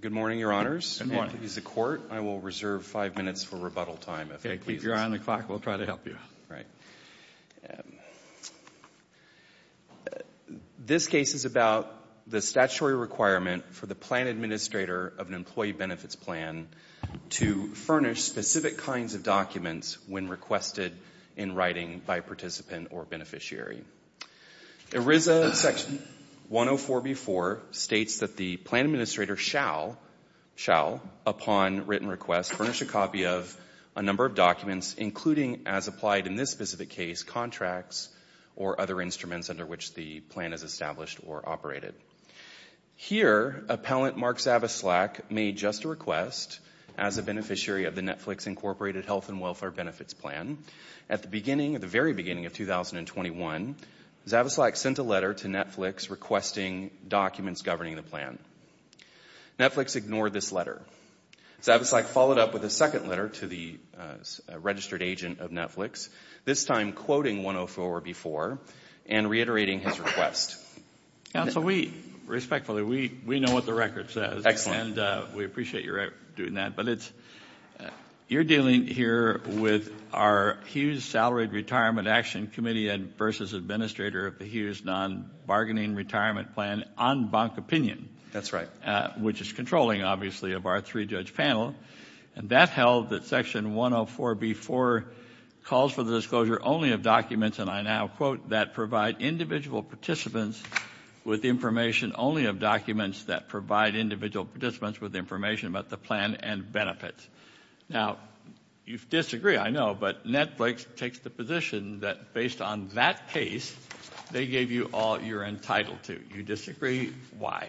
Good morning, Your Honors. Good morning. If he's a court, I will reserve five minutes for rebuttal time, if that pleases you. If you're on the clock, we'll try to help you. This case is about the statutory requirement for the plan administrator of an employee benefits plan to furnish specific kinds of documents when requested in writing by participant or beneficiary. ERISA Section 104b.4 states that the plan administrator shall, upon written request, furnish a copy of a number of documents, including, as applied in this specific case, contracts or other instruments under which the plan is established or operated. Here, Appellant Mark Zavislak made just a request as a beneficiary of the Netflix, Inc. Incorporated Health and Welfare Benefits Plan. At the beginning, at the very beginning of 2021, Zavislak sent a letter to Netflix requesting documents governing the plan. Netflix ignored this letter. Zavislak followed up with a second letter to the registered agent of Netflix, this time quoting 104b.4 and reiterating his request. Counsel, we, respectfully, we know what the record says. And we appreciate your doing that. But it's, you're dealing here with our Hughes Salaried Retirement Action Committee versus administrator of the Hughes Non-Bargaining Retirement Plan on bank opinion. That's right. Which is controlling, obviously, of our three-judge panel. And that held that Section 104b.4 calls for the disclosure only of documents, and I now quote, that provide individual participants with information only of documents that provide individual participants with information about the plan and benefits. Now, you disagree, I know, but Netflix takes the position that based on that case, they gave you all you're entitled to. You disagree. Why?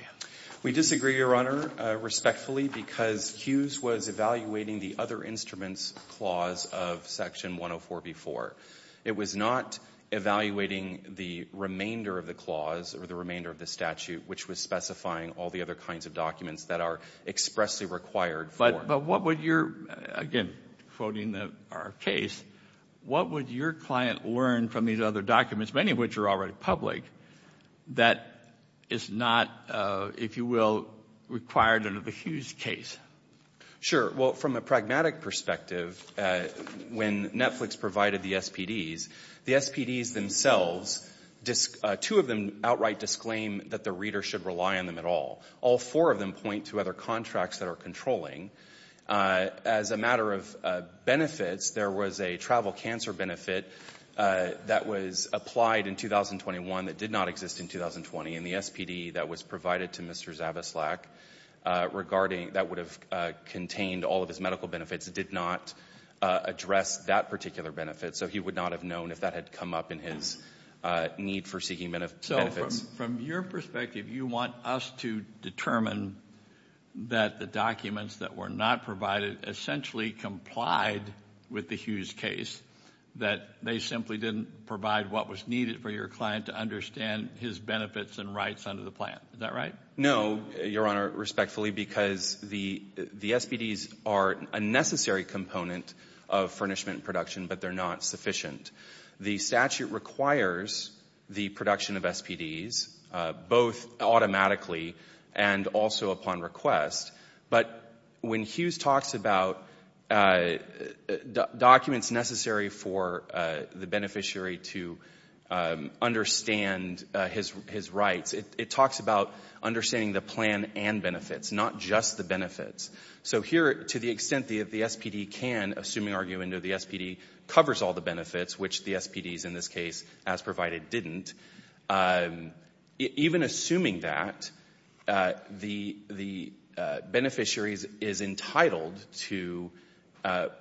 We disagree, Your Honor, respectfully, because Hughes was evaluating the other instruments clause of Section 104b.4. It was not evaluating the remainder of the clause or the remainder of the statute, which was specifying all the other kinds of documents that are expressly required for it. But what would your, again, quoting our case, what would your client learn from these other documents, many of which are already public, that is not, if you will, required under the Hughes case? Sure. Well, from a pragmatic perspective, when Netflix provided the SPDs, the SPDs themselves, two of them outright disclaim that the reader should rely on them at all. All four of them point to other contracts that are controlling. As a matter of benefits, there was a travel cancer benefit that was applied in 2021 that did not exist in 2020, and the SPD that was provided to Mr. Zabislak regarding that would have contained all of his medical benefits did not address that particular benefit, so he would not have known if that had come up in his need for seeking benefits. So from your perspective, you want us to determine that the documents that were not provided essentially complied with the Hughes case, that they simply didn't provide what was needed for your client to understand his benefits and rights under the plan. Is that right? No, Your Honor, respectfully, because the SPDs are a necessary component of furnishment production, but they're not sufficient. The statute requires the production of SPDs, both automatically and also upon request, but when Hughes talks about documents necessary for the beneficiary to understand his rights, it talks about understanding the plan and benefits, not just the benefits. So here, to the extent the SPD can, assuming argument of the SPD covers all the benefits, which the SPDs in this case, as provided, didn't, even assuming that, the beneficiary is entitled to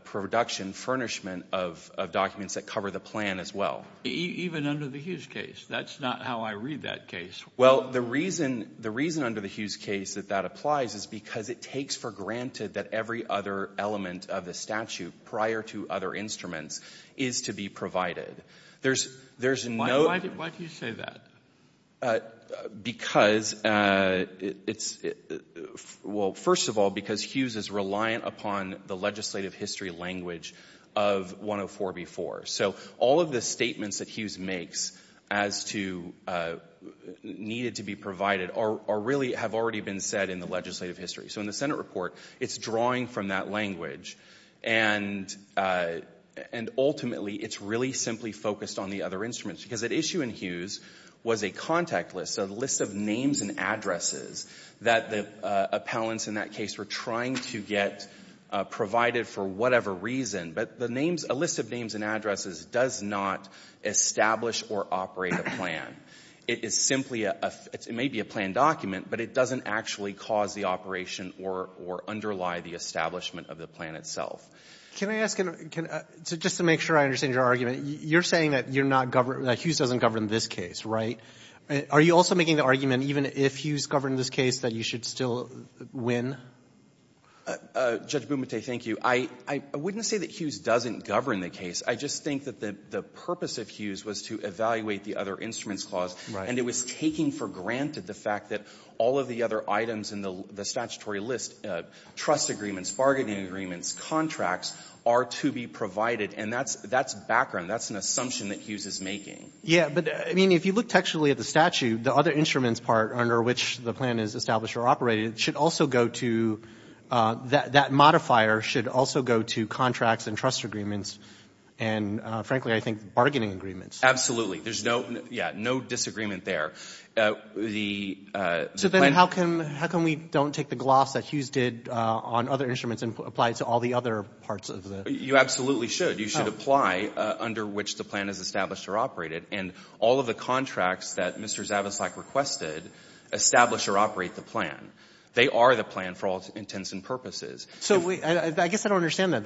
production, furnishment of documents that cover the plan as well. Even under the Hughes case? That's not how I read that case. Well, the reason under the Hughes case that that applies is because it takes for granted that every other element of the statute prior to other instruments is to be provided. There's no — Why do you say that? Because it's — well, first of all, because Hughes is reliant upon the legislative history language of 104b-4. So all of the statements that Hughes makes as to needed to be provided are really — have already been said in the legislative history. So in the Senate report, it's drawing from that language. And ultimately, it's really simply focused on the other instruments. Because at issue in Hughes was a contact list, so the list of names and addresses that the appellants in that case were trying to get provided for whatever reason. But the names — a list of names and addresses does not establish or operate a plan. It is simply a — it may be a planned document, but it doesn't actually cause the operation or — or underlie the establishment of the plan itself. Can I ask — just to make sure I understand your argument, you're saying that you're not — that Hughes doesn't govern this case, right? Are you also making the argument, even if Hughes governed this case, that you should still win? Judge Bumate, thank you. I wouldn't say that Hughes doesn't govern the case. I just think that the purpose of Hughes was to evaluate the other instruments clause, and it was taking for granted the fact that all of the other items in the statutory list — trust agreements, bargaining agreements, contracts — are to be provided. And that's background. That's an assumption that Hughes is making. Yeah, but, I mean, if you look textually at the statute, the other instruments part under which the plan is established or operated should also go to — that modifier should also go to contracts and trust agreements and, frankly, I think, bargaining agreements. Absolutely. There's no — yeah, no disagreement there. The — So then how come — how come we don't take the gloss that Hughes did on other instruments and apply it to all the other parts of the — You absolutely should. You should apply under which the plan is established or operated. And all of the contracts that Mr. Zavislak requested establish or operate the plan. They are the plan for all intents and purposes. So I guess I don't understand that.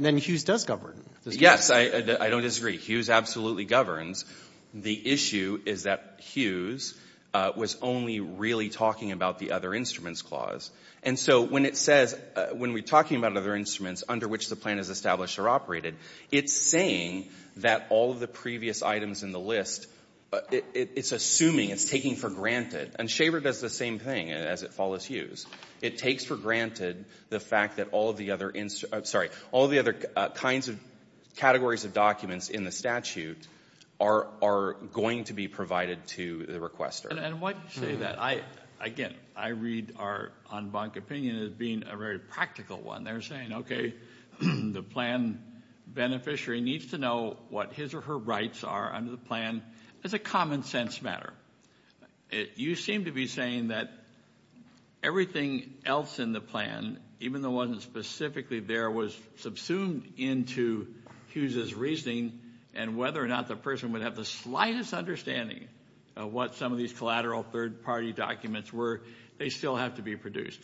Then Hughes does govern. Yes. I don't disagree. Hughes absolutely governs. The issue is that Hughes was only really talking about the other instruments clause. And so when it says — when we're talking about other instruments under which the plan is established or operated, it's saying that all of the previous items in the list, it's assuming, it's taking for granted. And Shaver does the same thing as it follows Hughes. It takes for granted the fact that all of the other — sorry — all of the other kinds of categories of documents in the statute are going to be provided to the requester. And why do you say that? Again, I read our en banc opinion as being a very practical one. They're saying, okay, the plan beneficiary needs to know what his or her rights are under the plan. It's a common-sense matter. You seem to be saying that everything else in the plan, even though it wasn't specifically there, was subsumed into Hughes's reasoning and whether or not the person would have the slightest understanding of what some of these collateral third-party documents were. They still have to be produced.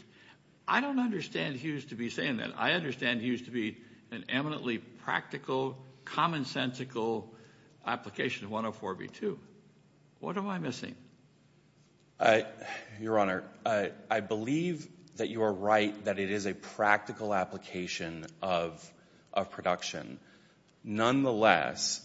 I don't understand Hughes to be saying that. I understand Hughes to be an eminently practical, common-sensical application of 104B2. What am I missing? Your Honor, I believe that you are right that it is a practical application of production. Nonetheless,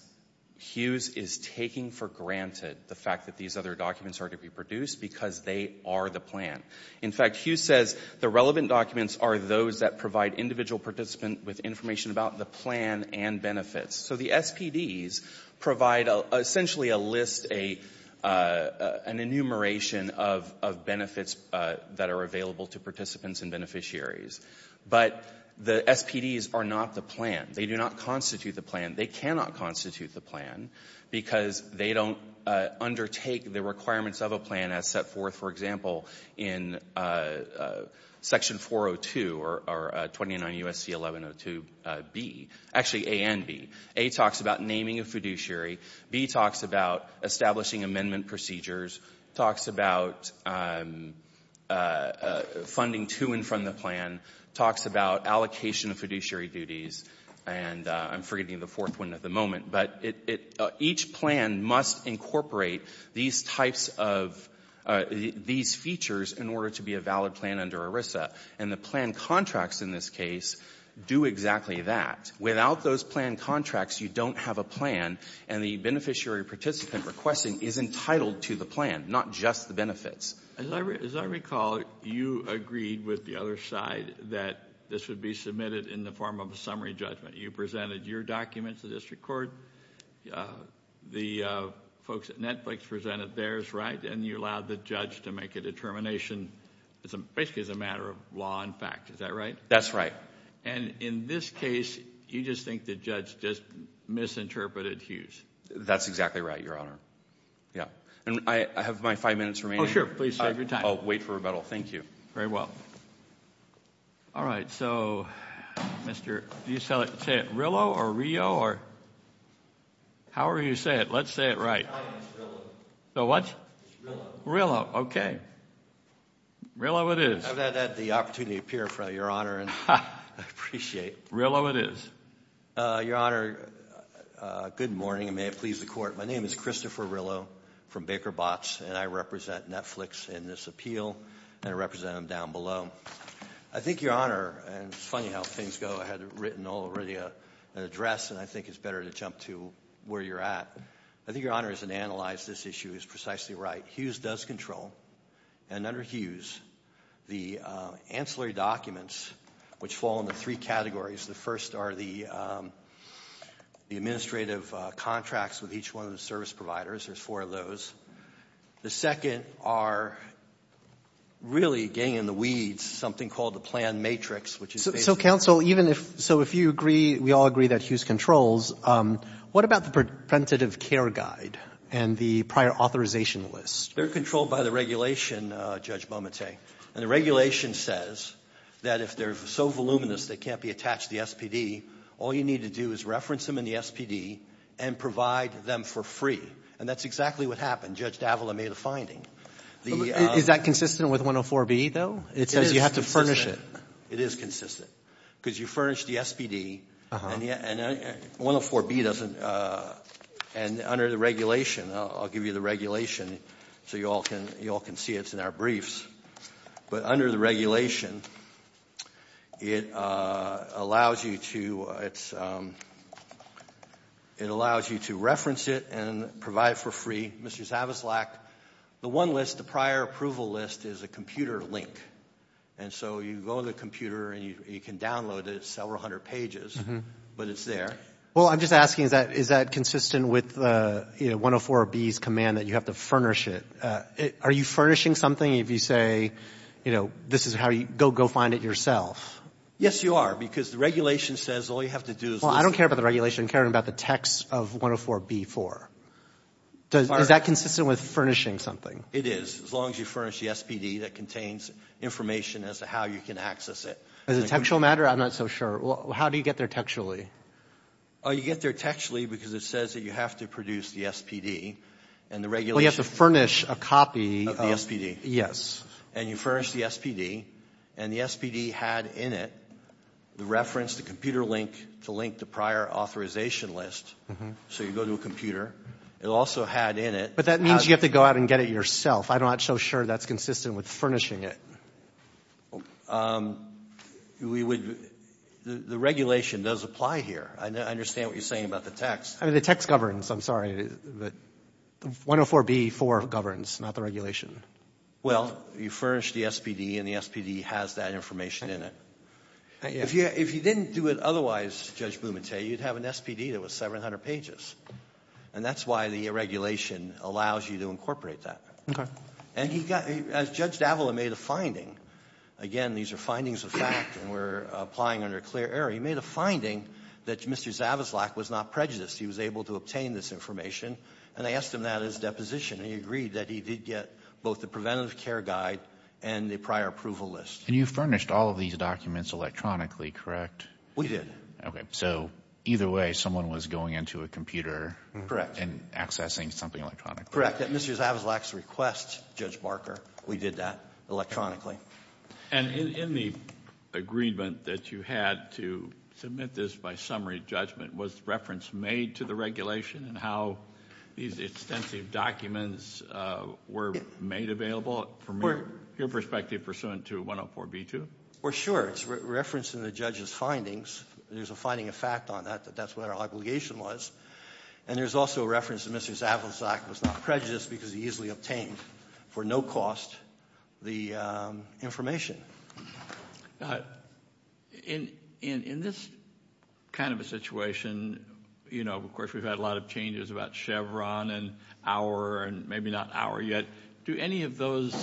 Hughes is taking for granted the fact that these other documents are to be produced because they are the plan. In fact, Hughes says the relevant documents are those that provide individual participants with information about the plan and benefits. So the SPDs provide essentially a list, an enumeration of benefits that are available to participants and beneficiaries. But the SPDs are not the plan. They do not constitute the plan. They cannot constitute the plan because they don't undertake the requirements of a plan as set forth, for example, in Section 402 or 29 U.S.C. 1102B, actually A and B. A talks about naming a fiduciary. B talks about establishing amendment procedures. It talks about funding to and from the plan. It talks about allocation of fiduciary duties. And I'm forgetting the fourth one at the moment. But each plan must incorporate these types of these features in order to be a valid plan under ERISA. And the plan contracts in this case do exactly that. Without those plan contracts, you don't have a plan, and the beneficiary participant requesting is entitled to the plan, not just the benefits. As I recall, you agreed with the other side that this would be submitted in the form of a summary judgment. You presented your documents to the district court. The folks at Netflix presented theirs, right, and you allowed the judge to make a determination basically as a matter of law and fact. Is that right? That's right. And in this case, you just think the judge just misinterpreted Hughes? That's exactly right, Your Honor. Yeah. And I have my five minutes remaining. Oh, sure. Please save your time. I'll wait for rebuttal. Thank you. Very well. All right. So, Mr.... Do you say it Rillo or Rio or...? However you say it, let's say it right. It's Rillo. The what? It's Rillo. Rillo. Okay. Rillo it is. I've had the opportunity to appear before Your Honor, and I appreciate it. Rillo it is. Your Honor, good morning, and may it please the Court. My name is Christopher Rillo from Baker Botts, and I represent Netflix in this appeal, and I represent them down below. I think, Your Honor, and it's funny how things go. I had written already an address, and I think it's better to jump to where you're at. I think Your Honor, as an analyst, this issue is precisely right. Hughes does control, and under Hughes, the ancillary documents, which fall into three categories. The first are the administrative contracts with each one of the service providers. There's four of those. The second are really getting in the weeds, something called the plan matrix, which is basically... So, counsel, even if... so if you agree, we all agree that Hughes controls, what about the preventative care guide and the prior authorization list? They're controlled by the regulation, Judge Momente, and the regulation says that if they're so voluminous they can't be attached to the SPD, all you need to do is reference them in the SPD and provide them for free, and that's exactly what happened. Judge Davila made a finding. Is that consistent with 104B, though? It says you have to furnish it. It is consistent. Because you furnish the SPD, and 104B doesn't... and under the regulation, I'll give you the regulation so you all can see it's in our briefs, but under the regulation, it allows you to... it allows you to reference it and provide it for free. Mr. Zavaslak, the one list, the prior approval list, is a computer link, and so you go to the computer and you can download it. It's several hundred pages, but it's there. Well, I'm just asking, is that consistent with 104B's command that you have to furnish it? Are you furnishing something if you say, you know, this is how you... go find it yourself? Yes, you are, because the regulation says all you have to do is... Well, I don't care about the regulation. I'm caring about the text of 104B-4. Is that consistent with furnishing something? It is, as long as you furnish the SPD that contains information as to how you can access it. Is it a textual matter? I'm not so sure. How do you get there textually? You get there textually because it says that you have to produce the SPD, and the regulation... Well, you have to furnish a copy... Of the SPD. Yes. And you furnish the SPD, and the SPD had in it the reference, the computer link, to link the prior authorization list, so you go to a computer. It also had in it... But that means you have to go out and get it yourself. I'm not so sure that's consistent with furnishing it. We would... The regulation does apply here. I understand what you're saying about the text. I mean, the text governs. I'm sorry, but 104B-4 governs, not the regulation. Well, you furnish the SPD, and the SPD has that information in it. If you didn't do it otherwise, Judge Bumate, you'd have an SPD that was 700 pages. And that's why the regulation allows you to incorporate that. And he got, as Judge Davila made a finding, again, these are findings of fact, and we're applying under clear error. He made a finding that Mr. Zavislak was not prejudiced. He was able to obtain this information, and I asked him that as deposition, and he agreed that he did get both the preventative care guide and the prior approval list. And you furnished all of these documents electronically, correct? We did. Okay. So either way, someone was going into a computer...... and accessing something electronically. Correct. At Mr. Zavislak's request, Judge Barker, we did that electronically. And in the agreement that you had to submit this by summary judgment, was reference made to the regulation in how these extensive documents were made available from your perspective pursuant to 104B-2? Well, sure. It's reference in the judge's findings. There's a finding of fact on that, that that's what our obligation was. And there's also reference that Mr. Zavislak was not prejudiced because he easily obtained, for no cost, the information. In this kind of a situation, you know, of course, we've had a lot of changes about Chevron and Auer and maybe not Auer yet. Do any of those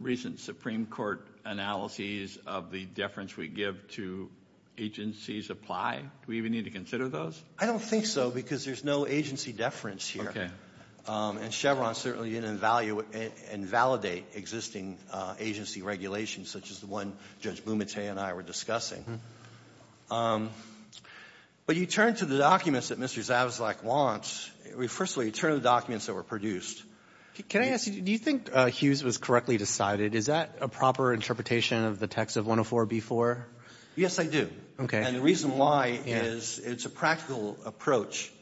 recent Supreme Court analyses of the deference we give to agencies apply? Do we even need to consider those? I don't think so because there's no agency deference here. And Chevron certainly didn't evaluate and validate existing agency regulations such as the one Judge Bumate and I were discussing. But you turn to the documents that Mr. Zavislak wants. First of all, you turn to the documents that were produced. Can I ask you, do you think Hughes was correctly decided? Is that a proper interpretation of the text of 104B-4? Yes, I do. Okay. And the reason why is it's a practical approach.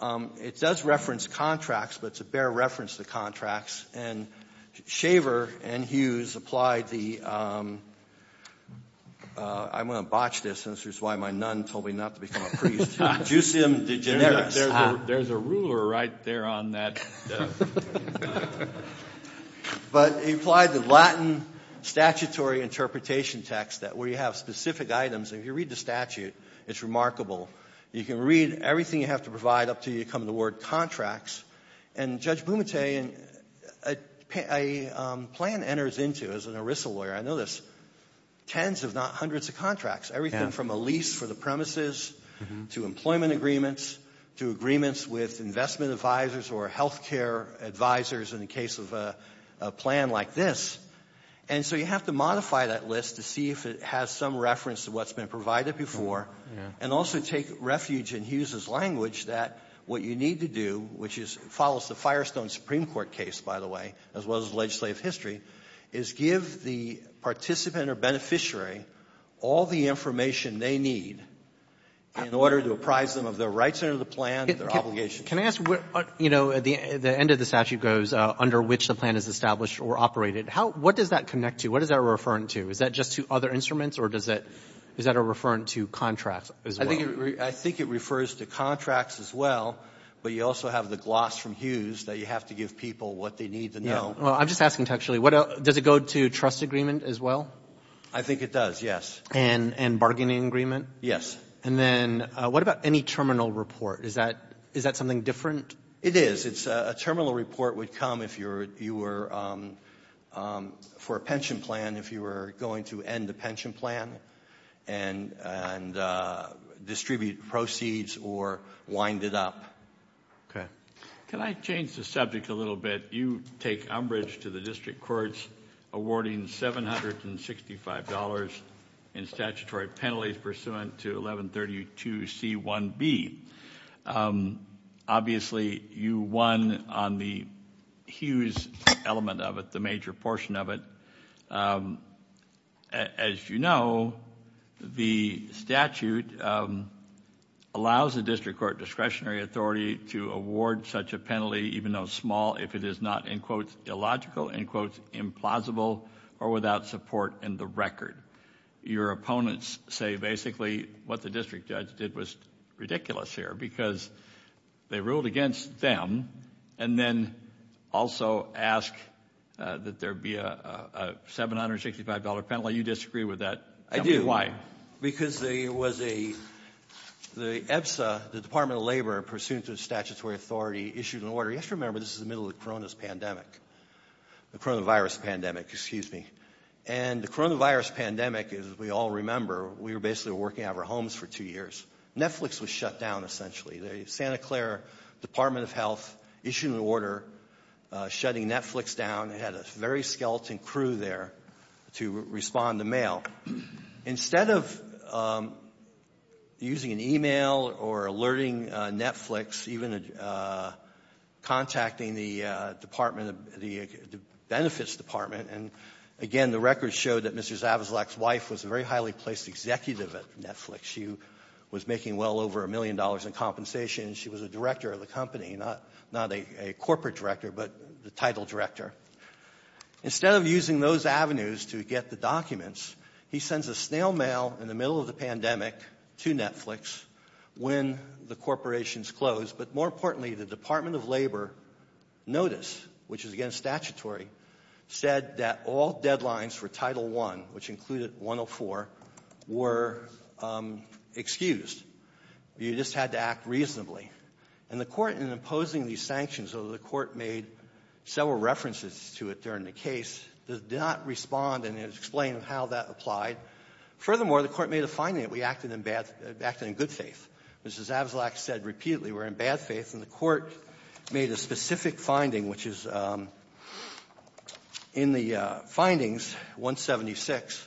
It does reference contracts, but it's a bare reference to contracts. And Shaver and Hughes applied the — I'm going to botch this. This is why my nun told me not to become a priest. Juicium de generis. There's a ruler right there on that. But he applied the Latin statutory interpretation text where you have specific items. If you read the statute, it's remarkable. You can read everything you have to provide up until you come to the word contracts. And Judge Bumate, a plan enters into, as an ERISA lawyer, I know this, tens if not hundreds of contracts, everything from a lease for the premises to employment agreements to agreements with investment advisors or health care advisors in the case of a plan like this. And so you have to modify that list to see if it has some reference to what's been provided before and also take refuge in Hughes's language that what you need to do, which follows the Firestone Supreme Court case, by the way, as well as legislative history, is give the participant or beneficiary all the information they need in order to apprise them of their rights under the plan, their obligations. Can I ask, you know, the end of the statute goes under which the plan is established or operated. What does that connect to? What is that referring to? Is that just to other instruments or is that referring to contracts as well? I think it refers to contracts as well. But you also have the gloss from Hughes that you have to give people what they need to know. I'm just asking textually. Does it go to trust agreement as well? I think it does, yes. And bargaining agreement? Yes. And then what about any terminal report? Is that something different? It is. A terminal report would come if you were for a pension plan, if you were going to end the pension plan and distribute proceeds or wind it up. Okay. Can I change the subject a little bit? You take umbrage to the district courts awarding $765 in statutory penalties pursuant to 1132C1B. Obviously, you won on the Hughes element of it, the major portion of it. As you know, the statute allows the district court discretionary authority to award such a penalty even though small if it is not, in quotes, illogical, in quotes, implausible or without support in the record. Your opponents say basically what the district judge did was ridiculous here because they ruled against them and then also ask that there be a $765 penalty. You disagree with that. I do. Why? Because there was the EBSA, the Department of Labor, pursuant to statutory authority, issued an order. You have to remember this is the middle of the coronavirus pandemic, excuse me. And the coronavirus pandemic, as we all remember, we were basically working out of our homes for two years. Netflix was shut down essentially. The Santa Clara Department of Health issued an order shutting Netflix down. It had a very skeleton crew there to respond to mail. Now, instead of using an email or alerting Netflix, even contacting the benefits department and, again, the record showed that Mr. Zavezlak's wife was a very highly placed executive at Netflix. She was making well over a million dollars in compensation. She was a director of the company, not a corporate director but the title director. Instead of using those avenues to get the documents, he sends a snail mail in the middle of the pandemic to Netflix when the corporations closed. But more importantly, the Department of Labor notice, which is, again, statutory, said that all deadlines for Title I, which included 104, were excused. You just had to act reasonably. And the court, in imposing these sanctions, although the court made several references to it during the case, did not respond and explain how that applied. Furthermore, the court made a finding that we acted in good faith. Mr. Zavezlak said repeatedly we're in bad faith, and the court made a specific finding, which is in the findings, 176,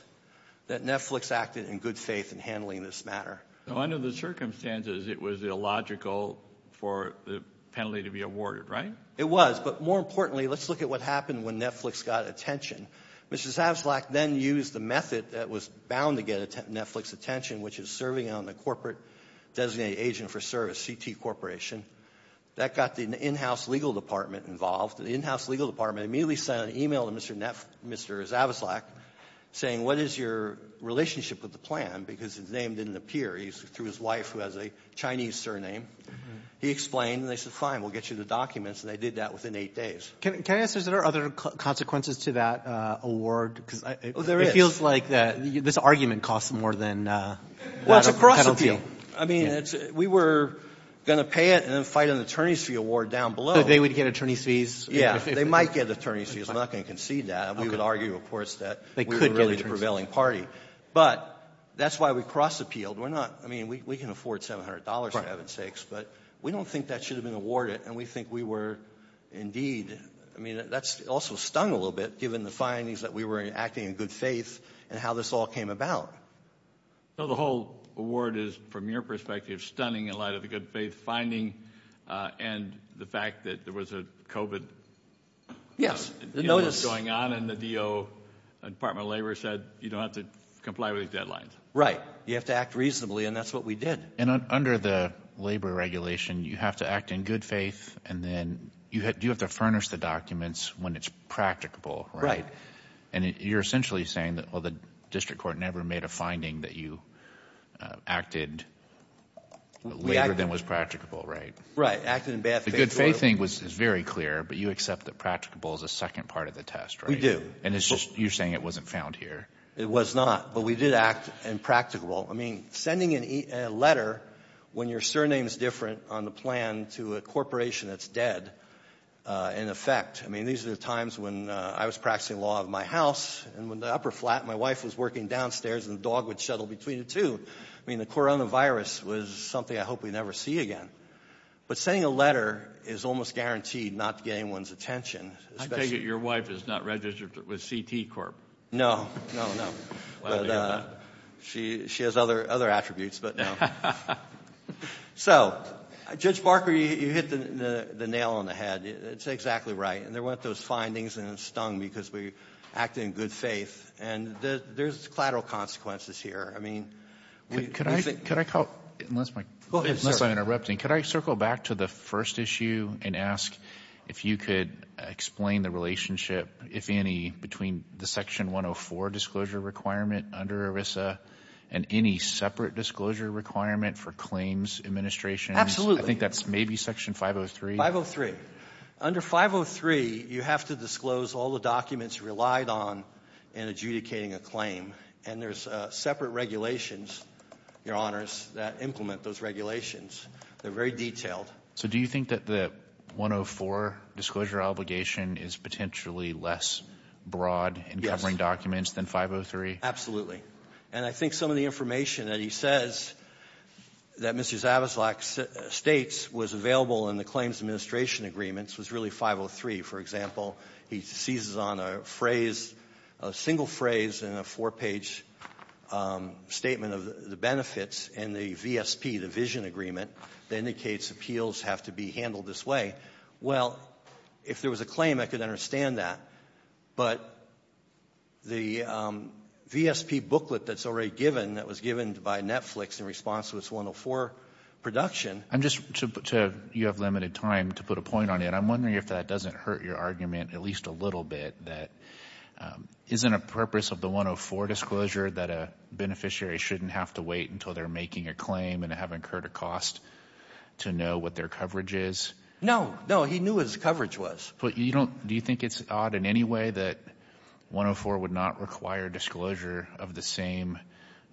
that Netflix acted in good faith in handling this matter. So under the circumstances, it was illogical for the penalty to be awarded, right? It was. But more importantly, let's look at what happened when Netflix got attention. Mr. Zavezlak then used the method that was bound to get Netflix attention, which is serving on the corporate designated agent for service, CT Corporation. That got the in-house legal department involved. The in-house legal department immediately sent an email to Mr. Zavezlak saying, what is your relationship with the plan? Because his name didn't appear. He threw his wife, who has a Chinese surname. He explained. And they said, fine, we'll get you the documents. And they did that within eight days. Can I ask, is there other consequences to that award? Oh, there is. It feels like this argument costs more than the penalty. I mean, we were going to pay it and then fight an attorney's fee award down below. So they would get attorney's fees? Yeah. They might get attorney's fees. I'm not going to concede that. We could argue, of course, that we were really the prevailing party. But that's why we cross-appealed. We're not. I mean, we can afford $700, for heaven's sakes. But we don't think that should have been awarded. And we think we were indeed. I mean, that's also stung a little bit, given the findings that we were acting in good faith and how this all came about. So the whole award is, from your perspective, stunning in light of the good faith finding and the fact that there was a COVID illness going on. And the DO, Department of Labor, said you don't have to comply with these deadlines. Right. You have to act reasonably. And that's what we did. And under the labor regulation, you have to act in good faith. And then you have to furnish the documents when it's practicable, right? Right. And you're essentially saying, well, the district court never made a finding that you acted later than was practicable, right? Right. Acting in bad faith. The good faith thing is very clear. But you accept that practicable is a second part of the test, right? We do. And it's just you're saying it wasn't found here. It was not. But we did act in practicable. I mean, sending a letter when your surname is different on the plan to a corporation that's dead, in effect. I mean, these are the times when I was practicing law of my house. And when the upper flat, my wife was working downstairs and the dog would shuttle between the two. I mean, the coronavirus was something I hope we never see again. But sending a letter is almost guaranteed not getting one's attention. I take it your wife is not registered with CT Corp. No. No, no. She has other attributes, but no. So, Judge Barker, you hit the nail on the head. It's exactly right. And there weren't those findings and it stung because we acted in good faith. And there's collateral consequences here. I mean, we think ‑‑ Unless I'm interrupting. Could I circle back to the first issue and ask if you could explain the relationship, if any, between the Section 104 disclosure requirement under ERISA and any separate disclosure requirement for claims administration? Absolutely. I think that's maybe Section 503. 503. Under 503, you have to disclose all the documents relied on in adjudicating a claim. And there's separate regulations, Your Honors, that implement those regulations. They're very detailed. So do you think that the 104 disclosure obligation is potentially less broad in covering documents than 503? Absolutely. And I think some of the information that he says that Mr. Zabislak states was available in the claims administration agreements was really 503. For example, he seizes on a phrase, a single phrase in a four-page statement of the benefits in the VSP, the vision agreement, that indicates appeals have to be handled this way. Well, if there was a claim, I could understand that. But the VSP booklet that's already given, that was given by Netflix in response to its 104 production ‑‑ at least a little bit, that isn't a purpose of the 104 disclosure that a beneficiary shouldn't have to wait until they're making a claim and have incurred a cost to know what their coverage is? No. No. He knew what his coverage was. But you don't ‑‑ do you think it's odd in any way that 104 would not require disclosure of the same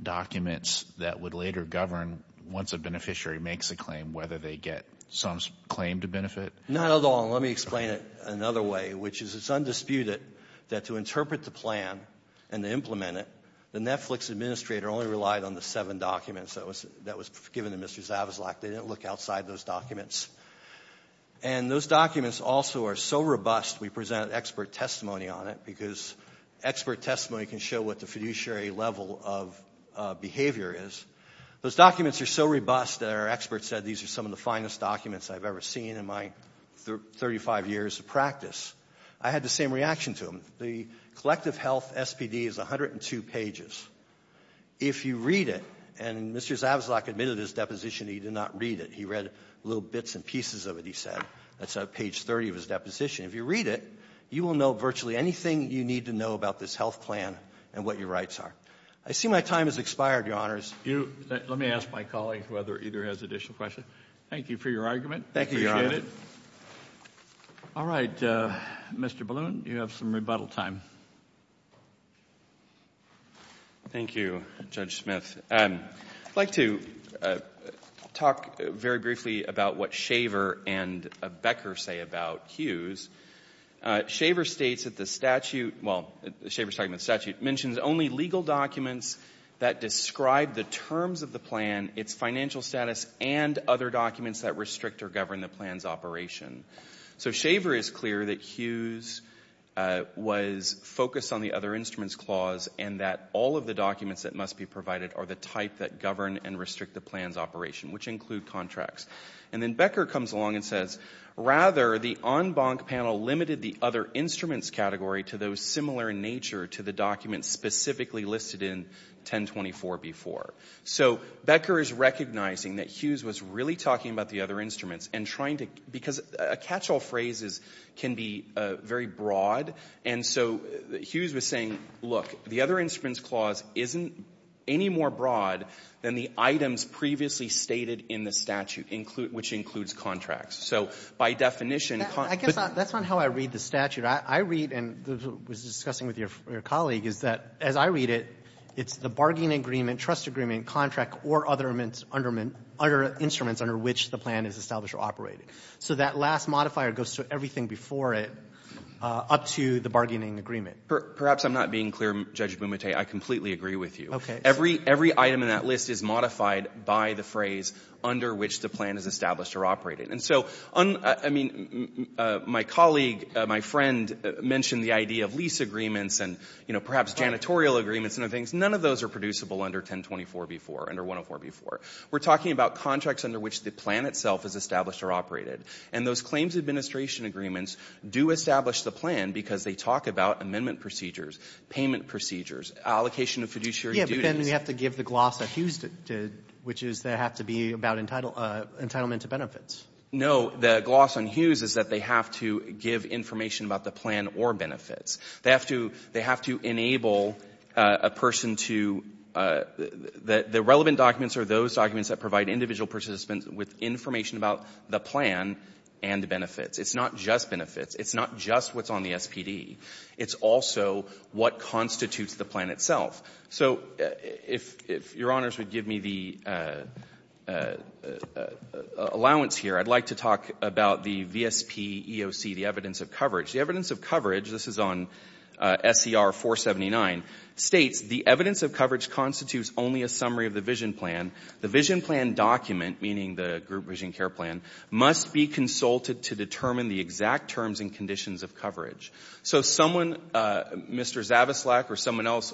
documents that would later govern, once a beneficiary makes a claim, whether they get some claim to benefit? Not at all. Well, let me explain it another way, which is it's undisputed that to interpret the plan and to implement it, the Netflix administrator only relied on the seven documents that was given to Mr. Zavezlak. They didn't look outside those documents. And those documents also are so robust, we present expert testimony on it, because expert testimony can show what the fiduciary level of behavior is. Those documents are so robust that our experts said these are some of the finest documents I've ever seen in my 35 years of practice. I had the same reaction to them. The collective health SPD is 102 pages. If you read it, and Mr. Zavezlak admitted in his deposition he did not read it. He read little bits and pieces of it, he said. That's page 30 of his deposition. If you read it, you will know virtually anything you need to know about this health plan and what your rights are. I see my time has expired, Your Honors. Let me ask my colleague whether either has additional questions. Thank you for your argument. We appreciate it. All right. Mr. Balloon, you have some rebuttal time. Thank you, Judge Smith. I'd like to talk very briefly about what Shaver and Becker say about Hughes. Shaver states that the statute mentions only legal documents that describe the terms of the plan, its financial status, and other documents that restrict or govern the plan's operation. So Shaver is clear that Hughes was focused on the other instruments clause and that all of the documents that must be provided are the type that govern and restrict the plan's operation, which include contracts. And then Becker comes along and says, rather, the en banc panel limited the other instruments category to those similar in nature to the documents specifically listed in 1024B4. So Becker is recognizing that Hughes was really talking about the other instruments and trying to, because a catch-all phrase can be very broad, and so Hughes was saying, look, the other instruments clause isn't any more broad than the items previously stated in the statute, which includes contracts. So by definition, contracts. I guess that's not how I read the statute. I read, and was discussing with your colleague, is that as I read it, it's the bargaining agreement, trust agreement, contract, or other instruments under which the plan is established or operated. So that last modifier goes to everything before it up to the bargaining agreement. Perhaps I'm not being clear, Judge Bumate. I completely agree with you. Okay. Every item in that list is modified by the phrase under which the plan is established or operated. And so, I mean, my colleague, my friend, mentioned the idea of lease agreements and, you know, perhaps janitorial agreements and other things. None of those are producible under 1024B4, under 104B4. We're talking about contracts under which the plan itself is established or operated. And those claims administration agreements do establish the plan because they talk about amendment procedures, payment procedures, allocation of fiduciary duties. Yeah, but then you have to give the gloss a hues, which is they have to be about entitlement to benefits. No. The gloss on hues is that they have to give information about the plan or benefits. They have to enable a person to the relevant documents or those documents that provide individual participants with information about the plan and the benefits. It's not just benefits. It's not just what's on the SPD. It's also what constitutes the plan itself. So if your honors would give me the allowance here, I'd like to talk about the VSPEOC, the evidence of coverage. The evidence of coverage, this is on SCR479, states, the evidence of coverage constitutes only a summary of the vision plan. The vision plan document, meaning the group vision care plan, must be consulted to determine the exact terms and conditions of coverage. So someone, Mr. Zavislak or someone else,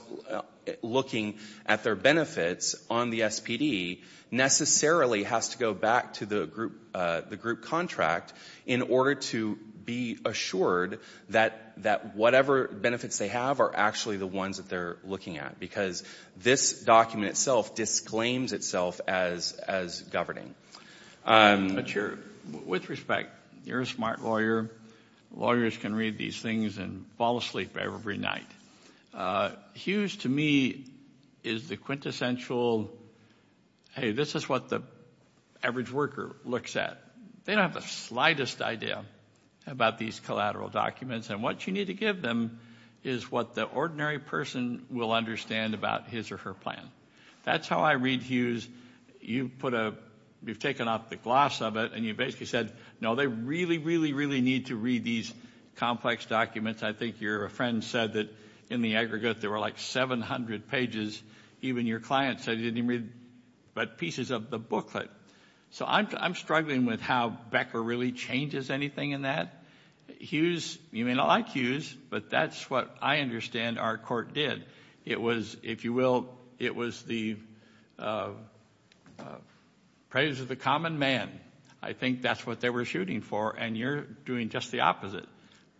looking at their benefits on the SPD necessarily has to go back to the group contract in order to be assured that whatever benefits they have are actually the ones that they're looking at, because this document itself disclaims itself as governing. With respect, you're a smart lawyer. Lawyers can read these things and fall asleep every night. Hughes, to me, is the quintessential, hey, this is what the average worker looks at. They don't have the slightest idea about these collateral documents, and what you need to give them is what the ordinary person will understand about his or her plan. That's how I read Hughes. You've taken off the gloss of it, and you basically said, no, they really, really, really need to read these complex documents. I think your friend said that in the aggregate there were like 700 pages. Even your client said he didn't read but pieces of the booklet. So I'm struggling with how Becker really changes anything in that. Hughes, you may not like Hughes, but that's what I understand our court did. It was, if you will, it was the praise of the common man. I think that's what they were shooting for, and you're doing just the opposite.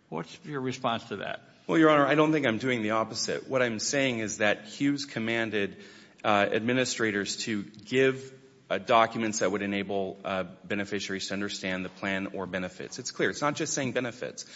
What's your response to that? Well, Your Honor, I don't think I'm doing the opposite. What I'm saying is that Hughes commanded administrators to give documents that would enable beneficiaries to understand the plan or benefits. It's clear. It's not just saying benefits.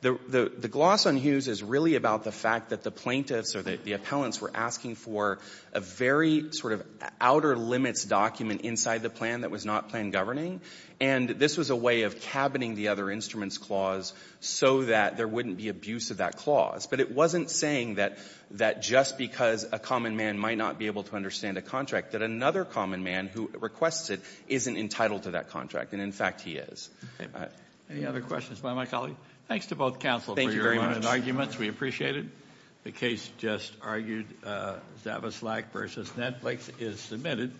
The gloss on Hughes is really about the fact that the plaintiffs or the appellants were asking for a very sort of outer limits document inside the plan that was not plan governing, and this was a way of cabining the other instruments clause so that there wouldn't be abuse of that clause. But it wasn't saying that just because a common man might not be able to understand a contract that another common man who requests it isn't entitled to that contract. And, in fact, he is. Any other questions by my colleague? Thanks to both counsel for your arguments. We appreciate it. The case just argued. Zavislak v. Netflix is submitted.